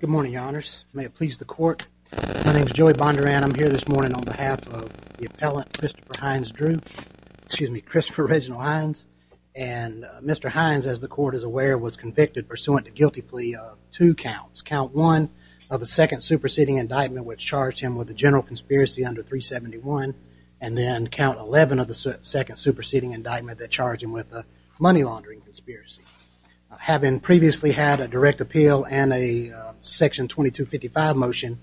Good morning, your honors. May it please the court. My name is Joey Bondurant. I'm here this morning on behalf of the appellant Christopher Hines, Drew, excuse me, Christopher Reginald Hines. And Mr. Hines, as the court is aware, was convicted pursuant to guilty plea of two counts. Count one of the second superseding indictment, which charged him with a general conspiracy under 371, and then count 11 of the second superseding indictment that charged him with a money laundering conspiracy. Having previously had a direct appeal and a section 2255 motion,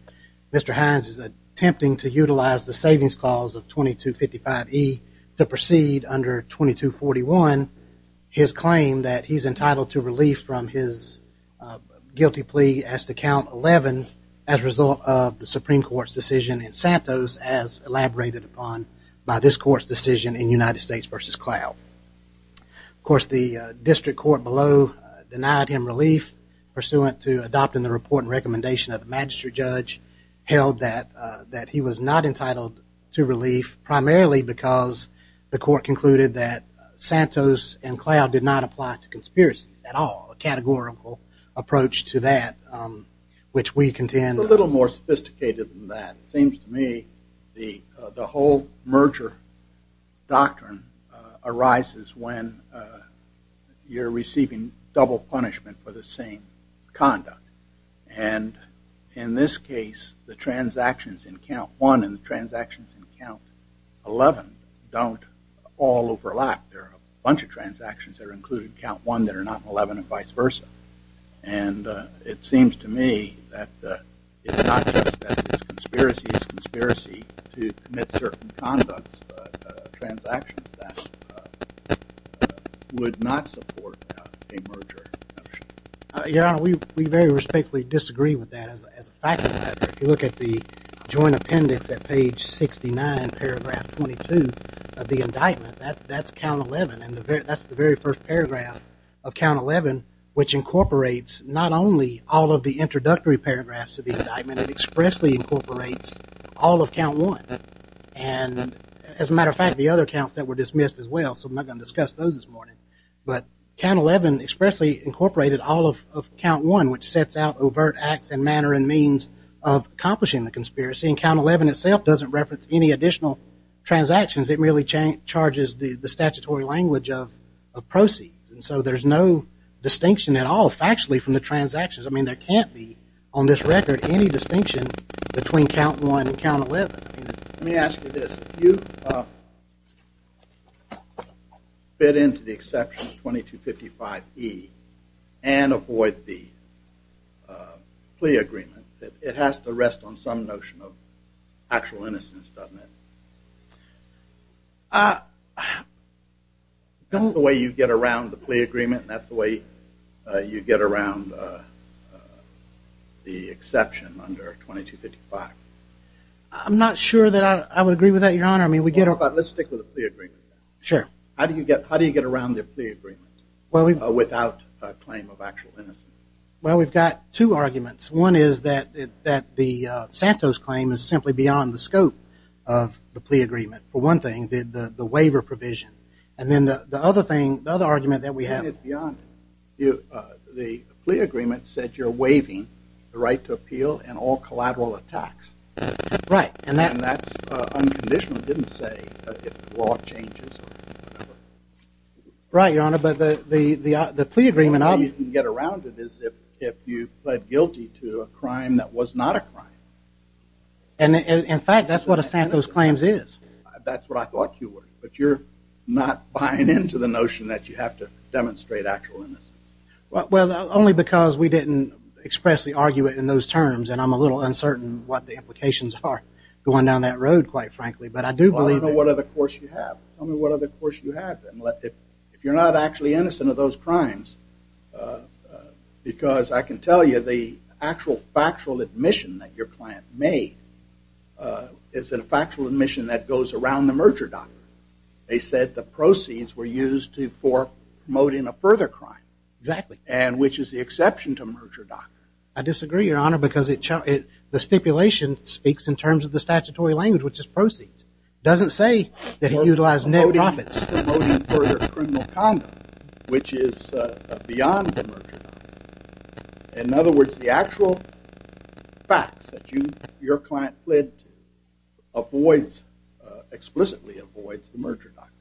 Mr. Hines is attempting to utilize the savings clause of 2255E to proceed under 2241. His claim that he's entitled to relief from his guilty plea as to count 11 as a result of the Supreme Court's decision in Santos as elaborated upon by this court's decision in United States v. Cloud. Of course, the district court below denied him relief pursuant to adopting the report and recommendation of the magistrate judge held that that he was not entitled to relief primarily because the court concluded that Santos and Cloud did not apply to conspiracies at all, categorical approach to that, which we contend. A little more sophisticated than that. It seems to me the whole merger doctrine arises when you're receiving double punishment for the same conduct. And in this case, the transactions in count one and the transactions in count 11 don't all And it seems to me that it's not just that it's a conspiracy, it's a conspiracy to commit certain conducts, transactions that would not support a merger. Your Honor, we very respectfully disagree with that as a fact. If you look at the joint appendix at page 69, paragraph 22 of the indictment, that's count 11 and that's the very first paragraph of count 11, which incorporates not only all of the introductory paragraphs of the indictment, it expressly incorporates all of count one. And as a matter of fact, the other counts that were dismissed as well, so I'm not going to discuss those this morning, but count 11 expressly incorporated all of count one, which sets out overt acts and manner and means of accomplishing the conspiracy. And count 11 itself doesn't reference any additional transactions. It merely charges the statutory language of proceeds. And so there's no distinction at all factually from the transactions. I mean, there can't be on this record any distinction between count one and count 11. Let me ask you this. If you fit into the exception 2255E and avoid the plea agreement, it has to rest on some notion of actual innocence. Doesn't it? That's the way you get around the plea agreement. That's the way you get around the exception under 2255. I'm not sure that I would agree with that, Your Honor. I mean, let's stick with the plea agreement. Sure. How do you get around the plea agreement without a claim of actual innocence? Well, we've got two arguments. One is that the Santos claim is simply beyond the of the plea agreement. For one thing, the waiver provision. And then the other thing, the other argument that we have is beyond it. The plea agreement said you're waiving the right to appeal and all collateral attacks. Right. And that's unconditional. It didn't say if the law changes. Right, Your Honor. But the plea agreement... The only way you can get around it is if you pled guilty to a crime that was not a crime. And in fact, that's what a Santos claims is. That's what I thought you were. But you're not buying into the notion that you have to demonstrate actual innocence. Well, only because we didn't expressly argue it in those terms. And I'm a little uncertain what the implications are going down that road, quite frankly. But I do believe... Well, I don't know what other course you have. Tell me what other course you have. If you're not actually innocent of those crimes, because I can tell you the actual factual admission that your client made is a factual admission that goes around the merger doctrine. They said the proceeds were used for promoting a further crime. Exactly. And which is the exception to merger doctrine. I disagree, Your Honor, because the stipulation speaks in terms of the statutory language, which is proceeds. Doesn't say that he is beyond the merger doctrine. In other words, the actual facts that your client fled to avoids, explicitly avoids the merger doctrine.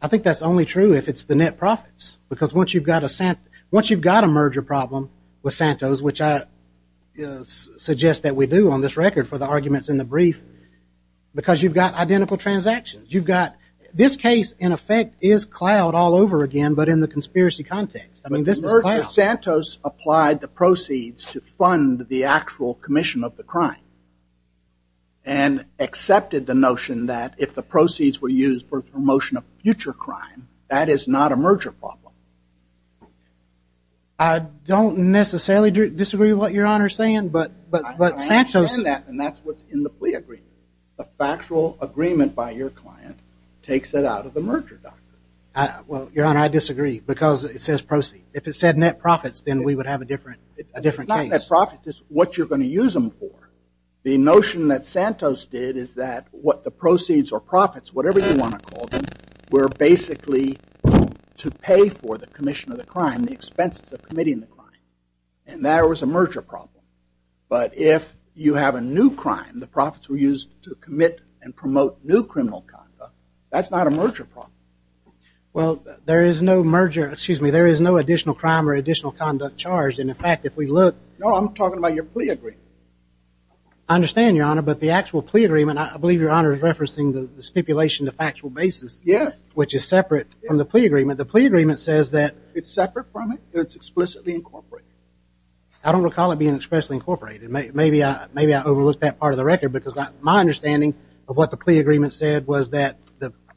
I think that's only true if it's the net profits. Because once you've got a merger problem with Santos, which I suggest that we do on this record for the arguments in the brief, because you've got identical transactions. You've got... This case, in effect, is cloud all over again, but in the conspiracy context. I mean, this is cloud. Merger Santos applied the proceeds to fund the actual commission of the crime. And accepted the notion that if the proceeds were used for promotion of future crime, that is not a merger problem. I don't necessarily disagree with what Your Honor is saying, but... I understand that, and that's what's in the plea agreement. The factual agreement by your client takes it out of the merger doctrine. Well, Your Honor, I disagree, because it says proceeds. If it said net profits, then we would have a different case. It's not net profits. It's what you're going to use them for. The notion that Santos did is that what the proceeds or profits, whatever you want to call them, were basically to pay for the commission of the crime, the expenses of committing the crime. And that was a merger problem. But if you have a new crime, the profits were used to commit and promote new criminal conduct, that's not a merger problem. Well, there is no merger, excuse me, there is no additional crime or additional conduct charged. And in fact, if we look... No, I'm talking about your plea agreement. I understand, Your Honor, but the actual plea agreement, I believe Your Honor is referencing the stipulation, the factual basis. Yes. Which is separate from the plea agreement. The plea agreement says that... It's separate from it, but it's explicitly incorporated. I don't recall it being expressly incorporated. Maybe I overlooked that part of the record because my understanding of what the plea agreement said was that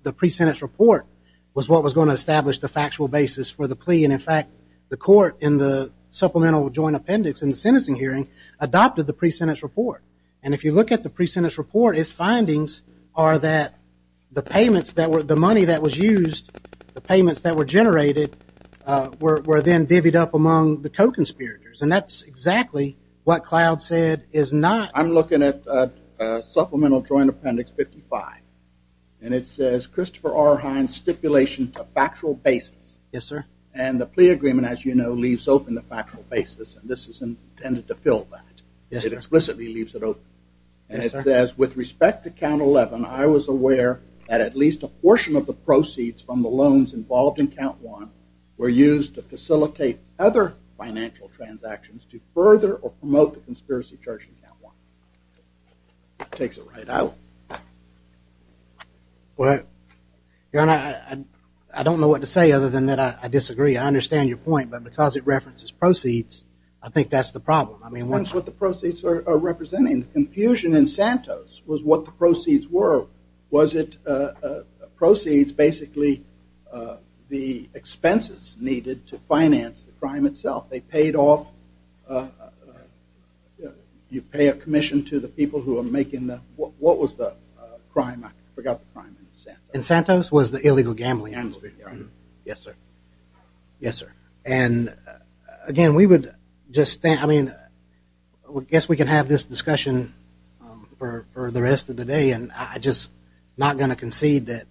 the pre-sentence report was what was going to establish the factual basis for the plea. And in fact, the court in the Supplemental Joint Appendix in the sentencing hearing adopted the pre-sentence report. And if you look at the pre-sentence report, its findings are that the payments that were, the money that was used, the payments that were generated, were then divvied up among the co-conspirators. And that's exactly what we're looking at, Supplemental Joint Appendix 55. And it says, Christopher R. Hines stipulation to factual basis. Yes, sir. And the plea agreement, as you know, leaves open the factual basis. And this is intended to fill that. Yes, sir. It explicitly leaves it open. Yes, sir. And it says, with respect to Count 11, I was aware that at least a portion of the proceeds from the loans involved in Count 1 were used to facilitate other financial transactions to further or promote the conspiracy charge in Count 1. That takes it right out. Well, Your Honor, I don't know what to say other than that I disagree. I understand your point, but because it references proceeds, I think that's the problem. I mean, once. That's what the proceeds are representing. The confusion in Santos was what the proceeds were. Was it proceeds, basically the expenses needed to finance the crime itself. They paid off, you pay a commission to the people who are making the, what was the crime? I forgot the crime in Santos. In Santos was the illegal gambling. Yes, sir. Yes, sir. And again, we would just, I mean, I guess we can have this discussion for the rest of the day. And I'm just not going to concede that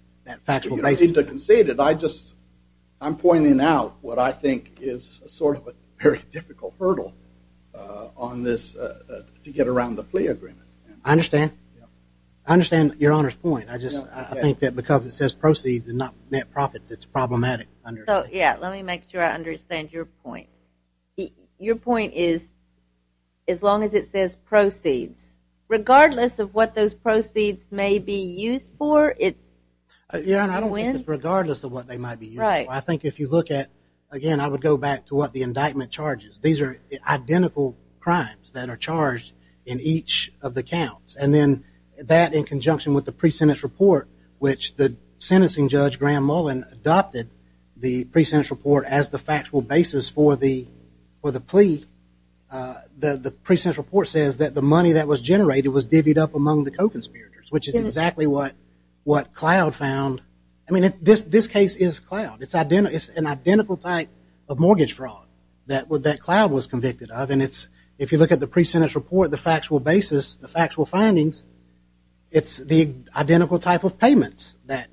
factual basis. You don't need to concede it. I just, I'm pointing out what I think is sort of a very difficult hurdle on this to get around the plea agreement. I understand. I understand Your Honor's point. I just, I think that because it says proceeds and not net profits, it's problematic. Yeah, let me make sure I understand your point. Your point is, as long as it says proceeds, regardless of what those proceeds may be used for, you win. Your Honor, I don't think that regardless of what they might be charged, these are identical crimes that are charged in each of the counts. And then that in conjunction with the pre-sentence report, which the sentencing judge, Graham Mullen, adopted the pre-sentence report as the factual basis for the plea, the pre-sentence report says that the money that was generated was divvied up among the co-conspirators, which is exactly what Cloud found. I mean, this case is Cloud. It's an identical type of mortgage fraud that Cloud was convicted of. And it's, if you look at the pre-sentence report, the factual basis, the factual findings, it's the identical type of payments that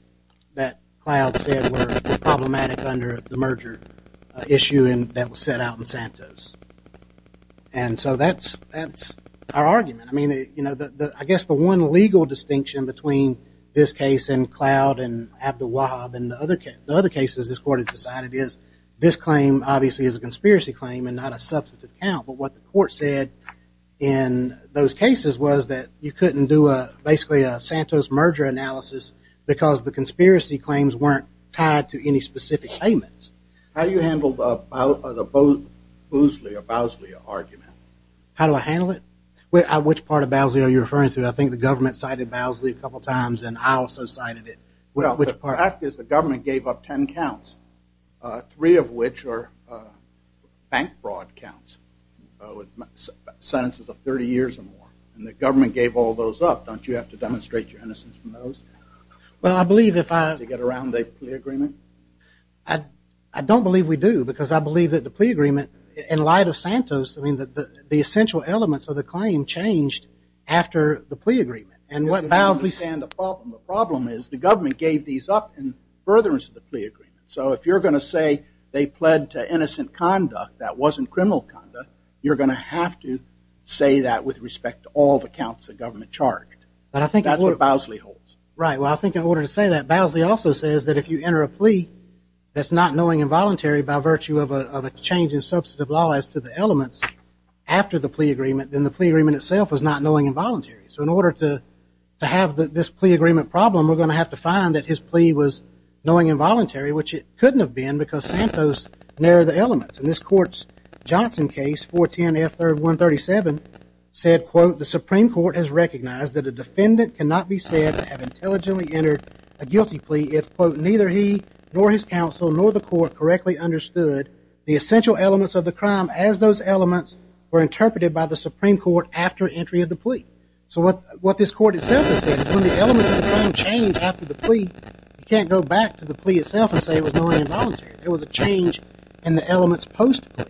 Cloud said were problematic under the merger issue that was set out in Santos. And so that's our argument. I mean, you know, I guess the one legal distinction between this case and Cloud and Abdul Wahab and the other cases this court has decided is this claim obviously is a conspiracy claim and not a substantive count. But what the court said in those cases was that you couldn't do basically a Santos merger analysis because the conspiracy claims weren't tied to any specific payments. How do you handle the Boosley or Bowsley argument? How do I handle it? Which part of Bowsley are you referring to? I think the government cited Bowsley a couple times and I also cited it. Well, the fact is the government gave up ten counts, three of which are bank fraud counts, sentences of 30 years or more. And the government gave all those up. Don't you have to demonstrate your innocence from those? Well, I believe if I... To get around the plea agreement? I don't believe we do because I believe that the plea agreement, in light of Santos, I mean, the essential elements of the claim changed after the furtherance of the plea agreement. So if you're going to say they pled to innocent conduct that wasn't criminal conduct, you're going to have to say that with respect to all the counts the government charged. That's what Bowsley holds. Right. Well, I think in order to say that, Bowsley also says that if you enter a plea that's not knowing involuntary by virtue of a change in substantive law as to the elements after the plea agreement, then the plea agreement itself is not knowing involuntary. So in order to have this plea agreement problem, we're going to have to find that his plea was knowing involuntary, which it couldn't have been because Santos narrowed the elements. And this court's Johnson case, 410 F. 137, said, quote, the Supreme Court has recognized that a defendant cannot be said to have intelligently entered a guilty plea if, quote, neither he nor his counsel nor the court correctly understood the essential elements of the crime as those elements were interpreted by the Supreme Court after entry of the plea. So what this court itself has said is when the elements of the crime change after the plea, you can't go back to the plea itself and say it was knowing involuntary. It was a change in the elements post-plea.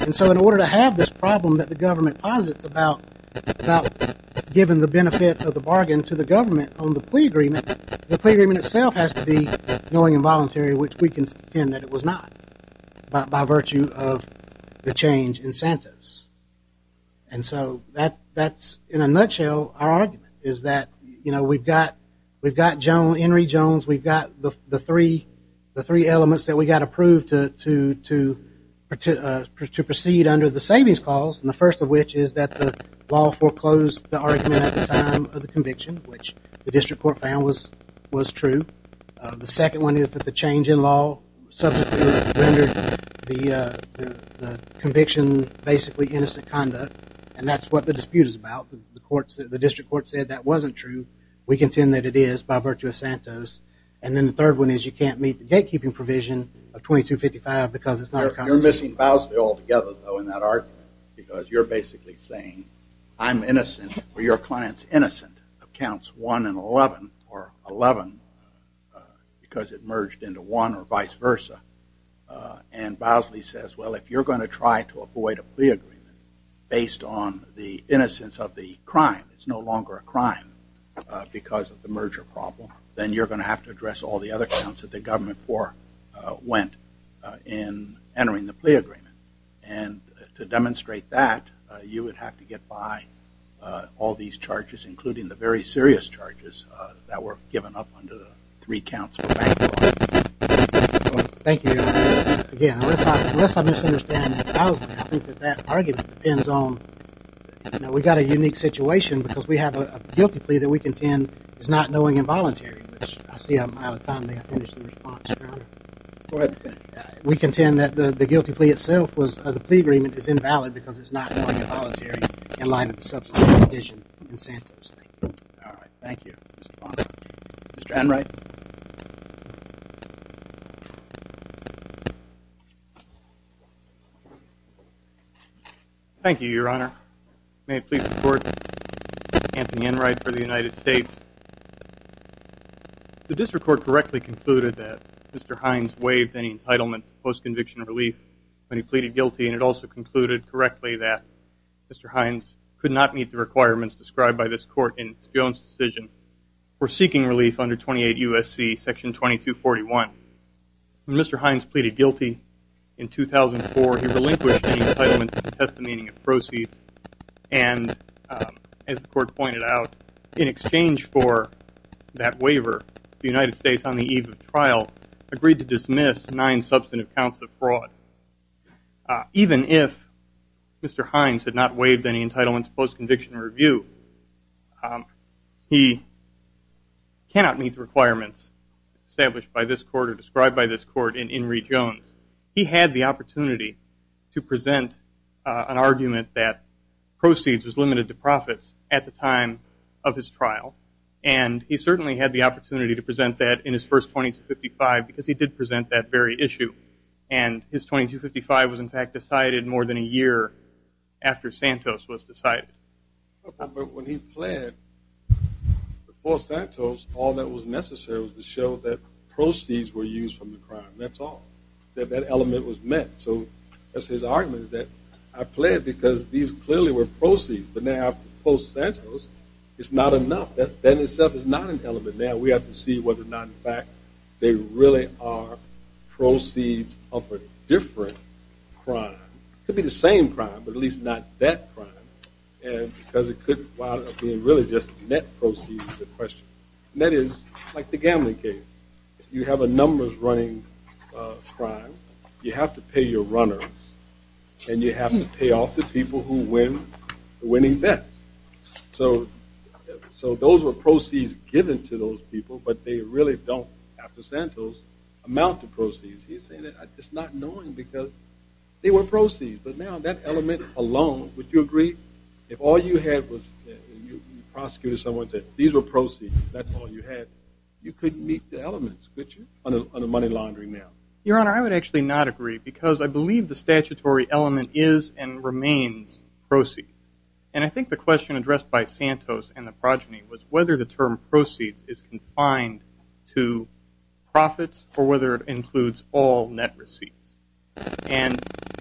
And so in order to have this problem that the government posits about giving the benefit of the bargain to the government on the plea agreement, the plea agreement itself has to be knowing involuntary, which we can pretend that it was not by virtue of the change in Santos. And so that's, in a nutshell, our argument is that, you know, we've got John Henry Jones, we've got the three elements that we got approved to proceed under the savings clause, and the first of which is that the law subsequently rendered the conviction basically innocent conduct, and that's what the dispute is about. The district court said that wasn't true. We contend that it is by virtue of Santos. And then the third one is you can't meet the gatekeeping provision of 2255 because it's not a constitution. You're missing Bowsley altogether, though, in that argument because you're basically saying I'm innocent or your client's innocent of counts 1 and 11 or 11 because it merged into one or vice versa. And Bowsley says, well, if you're going to try to avoid a plea agreement based on the innocence of the crime, it's no longer a crime because of the merger problem, then you're going to have to address all the other counts that the government went in entering the plea agreement. And to demonstrate that, you would have to get by all these charges, including the very serious charges that were given up under the three counts for bank fraud. Thank you. Again, unless I misunderstand Bowsley, I think that that argument depends on, you know, we got a unique situation because we have a guilty plea that we contend is not knowing involuntary. I see I'm out of time. May I finish the response, Your Honor? Go ahead. We contend that the guilty plea itself was, the plea agreement is invalid because it's not knowing involuntary in light of the subsequent petition incentives. Thank you. All right. Thank you, Mr. Bonner. Mr. Enright? Thank you, Your Honor. May it please the court, Anthony Enright for the United States. The district court correctly concluded that Mr. Hines waived any entitlement to post-conviction relief when he pleaded guilty. And it also concluded correctly that Mr. Hines could not meet the requirements described by this court in its Jones decision for seeking relief under 28 U.S.C. Section 2241. When Mr. Hines pleaded guilty in 2004, he relinquished any entitlement to the testimony of proceeds. And as the court pointed out, in exchange for that waiver, the United States, on the eve of trial, agreed to dismiss nine substantive counts of fraud. Even if Mr. Hines had not waived any entitlement to post-conviction review, he cannot meet the requirements established by this court or described by this court in Enright Jones. He had the opportunity to present an argument that proceeds was limited to profits at the time of his trial. And he certainly had the opportunity to present that in his first 2255 because he did present that very issue. And his 2255 was, in fact, decided more than a year after Santos was decided. But when he pled before Santos, all that was necessary was to show that proceeds were used from the crime. That's all. That element was met. So his argument is that I pled because these clearly were proceeds. But now post-Santos, it's not enough. That in itself is not an element. Now we have to see whether or not, in fact, they really are proceeds of a different crime. It could be the same crime, but at least not that crime. And because it could be really just net proceeds is the question. And that is like the gambling case. You have a numbers-running crime. You have to pay your runners. And you have to pay off the people who win the winning bets. So those were proceeds given to those people, but they really don't, after Santos, amount to proceeds. He's saying that it's not knowing because they were proceeds. But now that element alone, would you agree, if all you had was you prosecuted someone and said, these were proceeds, that's all you had, you couldn't meet the elements, could you, on a money laundering now? Your Honor, I would actually not agree because I believe the statutory element is and remains proceeds. And I think the question addressed by Santos and the progeny was whether the term proceeds is confined to profits or whether it includes all net receipts. And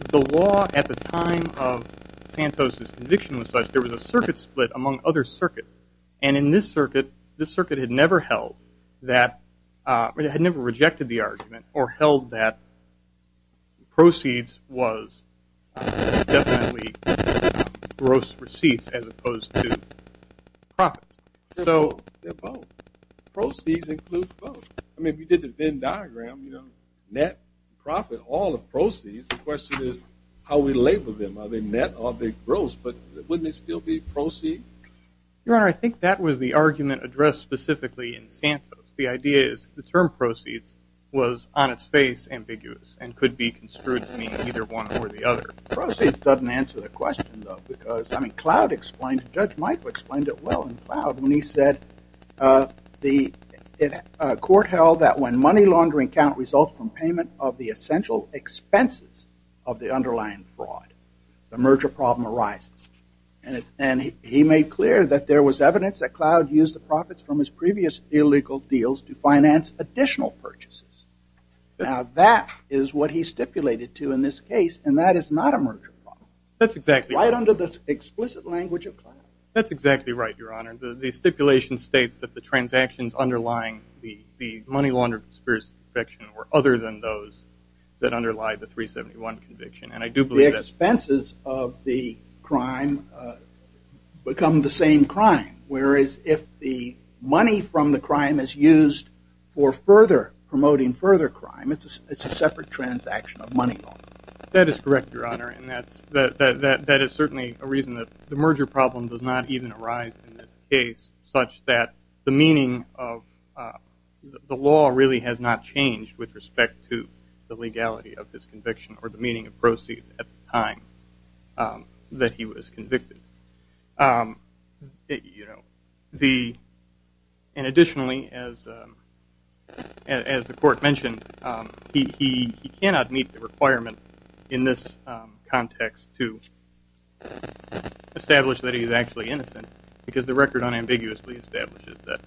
the law at the time of Santos' conviction was such there was a circuit split among other circuits. And in this circuit, this circuit had never held that, had never rejected the argument or held that proceeds was definitely gross receipts as opposed to profits. So they're both. Proceeds include both. I mean, if you did the Venn but wouldn't it still be proceeds? Your Honor, I think that was the argument addressed specifically in Santos. The idea is the term proceeds was on its face ambiguous and could be construed to mean either one or the other. Proceeds doesn't answer the question, though, because, I mean, Cloud explained it. Judge Michael explained it well in Cloud when he said the court held that when money laundering count results from payment of the essential expenses of the underlying fraud, the merger problem arises. And he made clear that there was evidence that Cloud used the profits from his previous illegal deals to finance additional purchases. Now, that is what he stipulated to in this case, and that is not a merger problem. That's exactly right. Right under the explicit language of Cloud. That's exactly right, Your Honor. The stipulation states that the transactions underlying the money laundering conspiracy conviction were other than those that underlie the 371 conviction, and I do believe that's true. The expenses of the crime become the same crime, whereas if the money from the crime is used for further promoting further crime, it's a separate transaction of money laundering. That is correct, but the law really has not changed with respect to the legality of this conviction or the meaning of proceeds at the time that he was convicted. And additionally, as the court mentioned, he cannot meet the requirement in this context to establish that he's actually innocent because the record unambiguously establishes that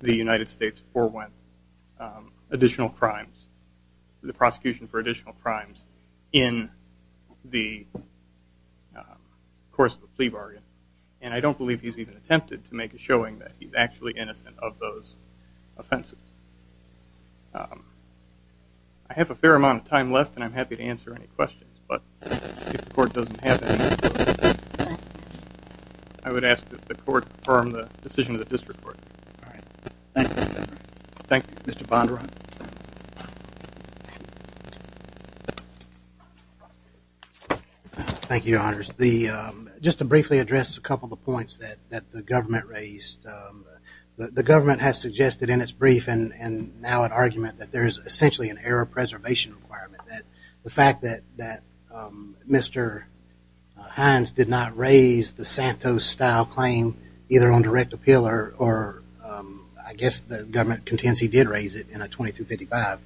the United States forewent additional crimes, the prosecution for additional crimes in the course of a plea bargain. And I don't believe he's even attempted to make a showing that he's actually innocent of those offenses. I have a fair amount of time left, and I'm happy to answer any questions, but if the court doesn't have any, I would ask that the court confirm the decision of the district court. Thank you, Mr. Bondurant. Thank you, Your Honors. Just to briefly address a couple of points that the government raised, the government has suggested in its brief and now in argument that there is essentially an error preservation requirement, that the fact that Mr. Hines did not raise the Santos-style claim either on direct appeal or I guess the government contends he did raise it in a 2255,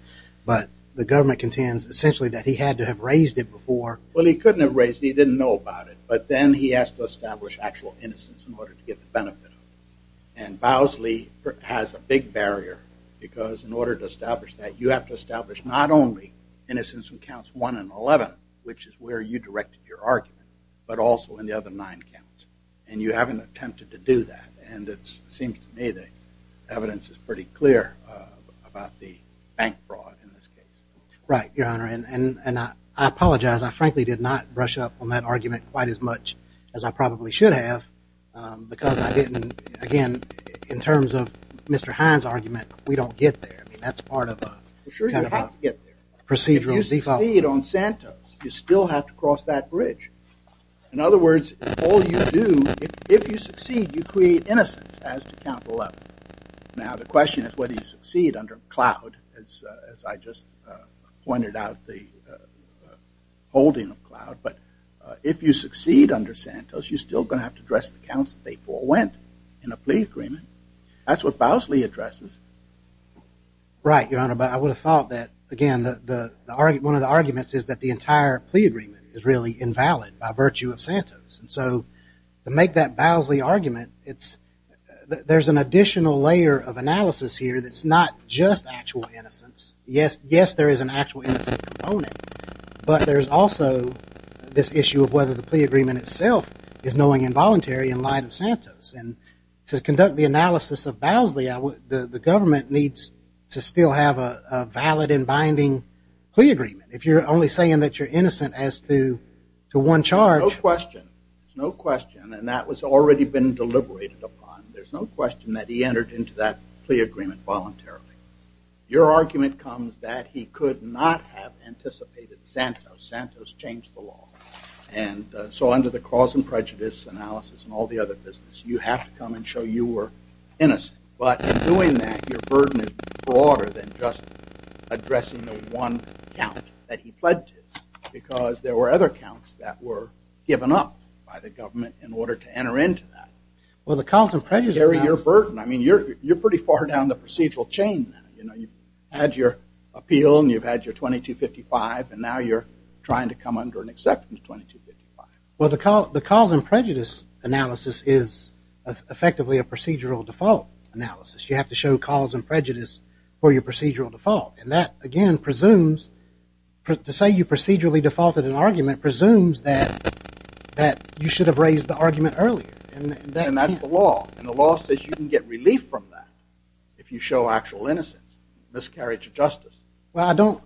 but the government contends essentially that he had to have raised it before. Well, he couldn't have raised it. He didn't know about it, but then he asked to establish actual innocence in order to get the benefit. And Bowsley has a big barrier because in order to establish that, you have to establish not only innocence in counts one and 11, which is where you directed your argument, but also in the other nine counts. And you haven't attempted to do that, and it seems to me that evidence is pretty clear about the bank fraud in this case. Right, Your Honor, and I apologize. I frankly did not brush up on that argument quite as much as I probably should have because I didn't, again, in terms of Mr. Hines' argument, we don't get there. I mean, that's part of a kind of a procedural default. If you succeed on Santos, you still have to cross that bridge. In other words, if all you do, if you succeed, you create innocence as to cloud, but if you succeed under Santos, you're still going to have to address the counts that they forewent in a plea agreement. That's what Bowsley addresses. Right, Your Honor, but I would have thought that, again, one of the arguments is that the entire plea agreement is really invalid by virtue of Santos. And so to make that additional layer of analysis here that's not just actual innocence, yes, there is an actual innocence component, but there's also this issue of whether the plea agreement itself is knowing involuntary in light of Santos. And to conduct the analysis of Bowsley, the government needs to still have a valid and binding plea agreement voluntarily. Your argument comes that he could not have anticipated Santos. Santos changed the law. And so under the cause and prejudice analysis and all the other business, you have to come and show you were innocent. But in doing that, your burden is broader than just addressing the one count that he pledged because there were other counts that were given up by the government in order to enter into that. Well, the cause and prejudice analysis. Gary, your burden, I mean, you're pretty far down the procedural chain now. You know, you've had your appeal and you've had your 2255 and now you're trying to come under an acceptance 2255. Well, the cause and prejudice analysis is effectively a procedural default analysis. You have to show cause and prejudice for your argument presumes that you should have raised the argument earlier. And that's the law. And the law says you can get relief from that if you show actual innocence, miscarriage of justice. Well,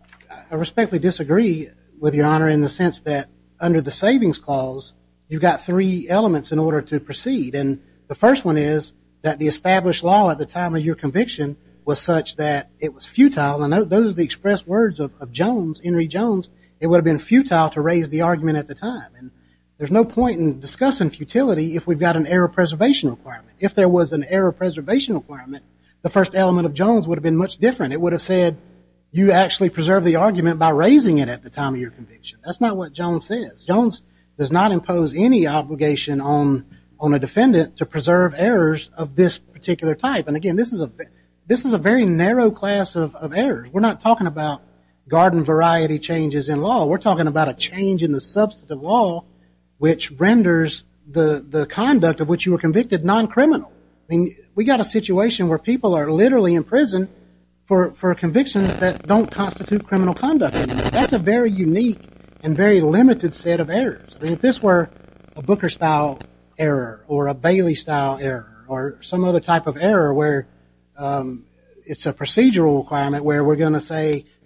I respectfully disagree with your honor in the sense that under the savings clause, you've got three elements in order to proceed. And the first one is that the established law at the time of your conviction was such that it was futile. And those are the expressed words of Jones, Henry Jones. It would have been futile to raise the argument at the time. And there's no point in discussing futility if we've got an error preservation requirement. If there was an error preservation requirement, the first element of Jones would have been much different. It would have said you actually preserved the argument by raising it at the time of your conviction. That's not what Jones says. Jones does not impose any obligation on a defendant to preserve errors of this particular type. And again, this is a very narrow class of errors. We're not talking about garden variety changes in law. We're talking about a change in the substantive law which renders the conduct of which you were convicted non-criminal. I mean, we got a situation where people are literally in prison for convictions that don't constitute criminal conduct. That's a very unique and very limited set of errors. I mean, if this were a Booker style error or a Bailey style error or some other type of error where it's a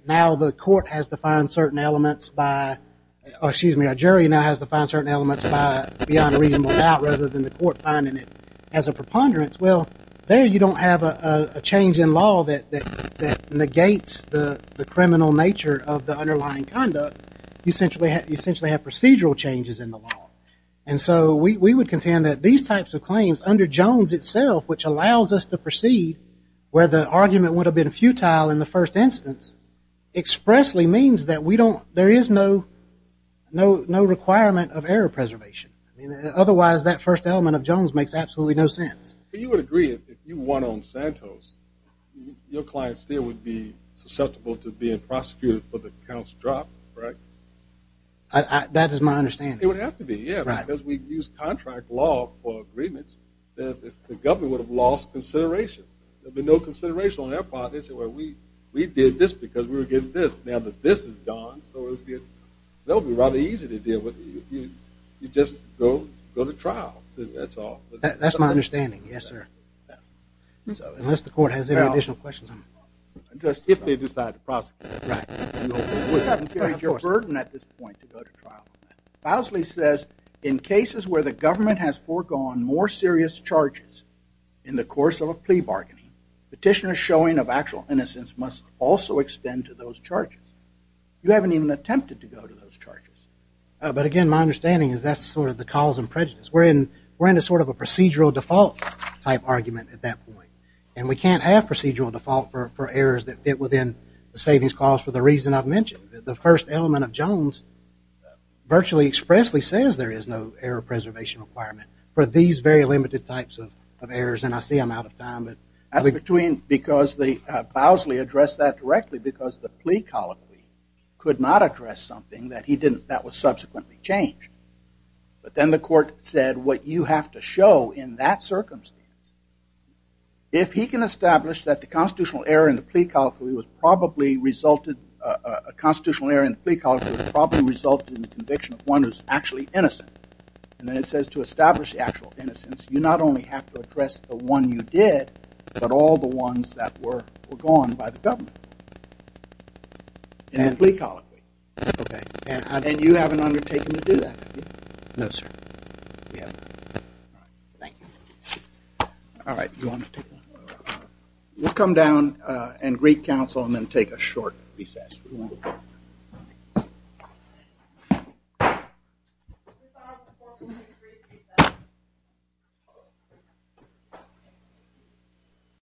now the court has to find certain elements by, excuse me, a jury now has to find certain elements by beyond a reasonable doubt rather than the court finding it as a preponderance. Well, there you don't have a change in law that negates the criminal nature of the underlying conduct. You essentially have procedural changes in the law. And so we would contend that these types of claims under Jones itself which allows us to expressly means that we don't, there is no requirement of error preservation. I mean, otherwise that first element of Jones makes absolutely no sense. You would agree if you won on Santos, your client still would be susceptible to being prosecuted for the counts dropped, correct? That is my understanding. It would have to be, yeah, because we've used contract law for agreements that the government would have lost consideration. There'd be no consideration on their part. They'd say, well, we did this because we were getting this. Now that this is gone, so it'll be rather easy to deal with. You just go to trial. That's all. That's my understanding. Yes, sir. Unless the court has any additional questions. Just if they decide to prosecute. Right. You wouldn't carry your burden at this point to go to trial. Fousley says in cases where the government has petitioner showing of actual innocence must also extend to those charges. You haven't even attempted to go to those charges. But again, my understanding is that's sort of the cause and prejudice. We're in a sort of a procedural default type argument at that point. And we can't have procedural default for errors that fit within the savings clause for the reason I've mentioned. The first element of Jones virtually expressly says there is no error preservation requirement for these very limited types of errors. And I see I'm out of time. I think between because the Fousley addressed that directly because the plea colloquy could not address something that he didn't. That was subsequently changed. But then the court said what you have to show in that circumstance. If he can establish that the constitutional error in the plea colloquy was innocent. And then it says to establish the actual innocence, you not only have to address the one you did, but all the ones that were were gone by the government and plea colloquy. And you haven't undertaken to do that. No, sir. Yeah. Thank you. All right. We'll come down and recouncil and then take a short recess.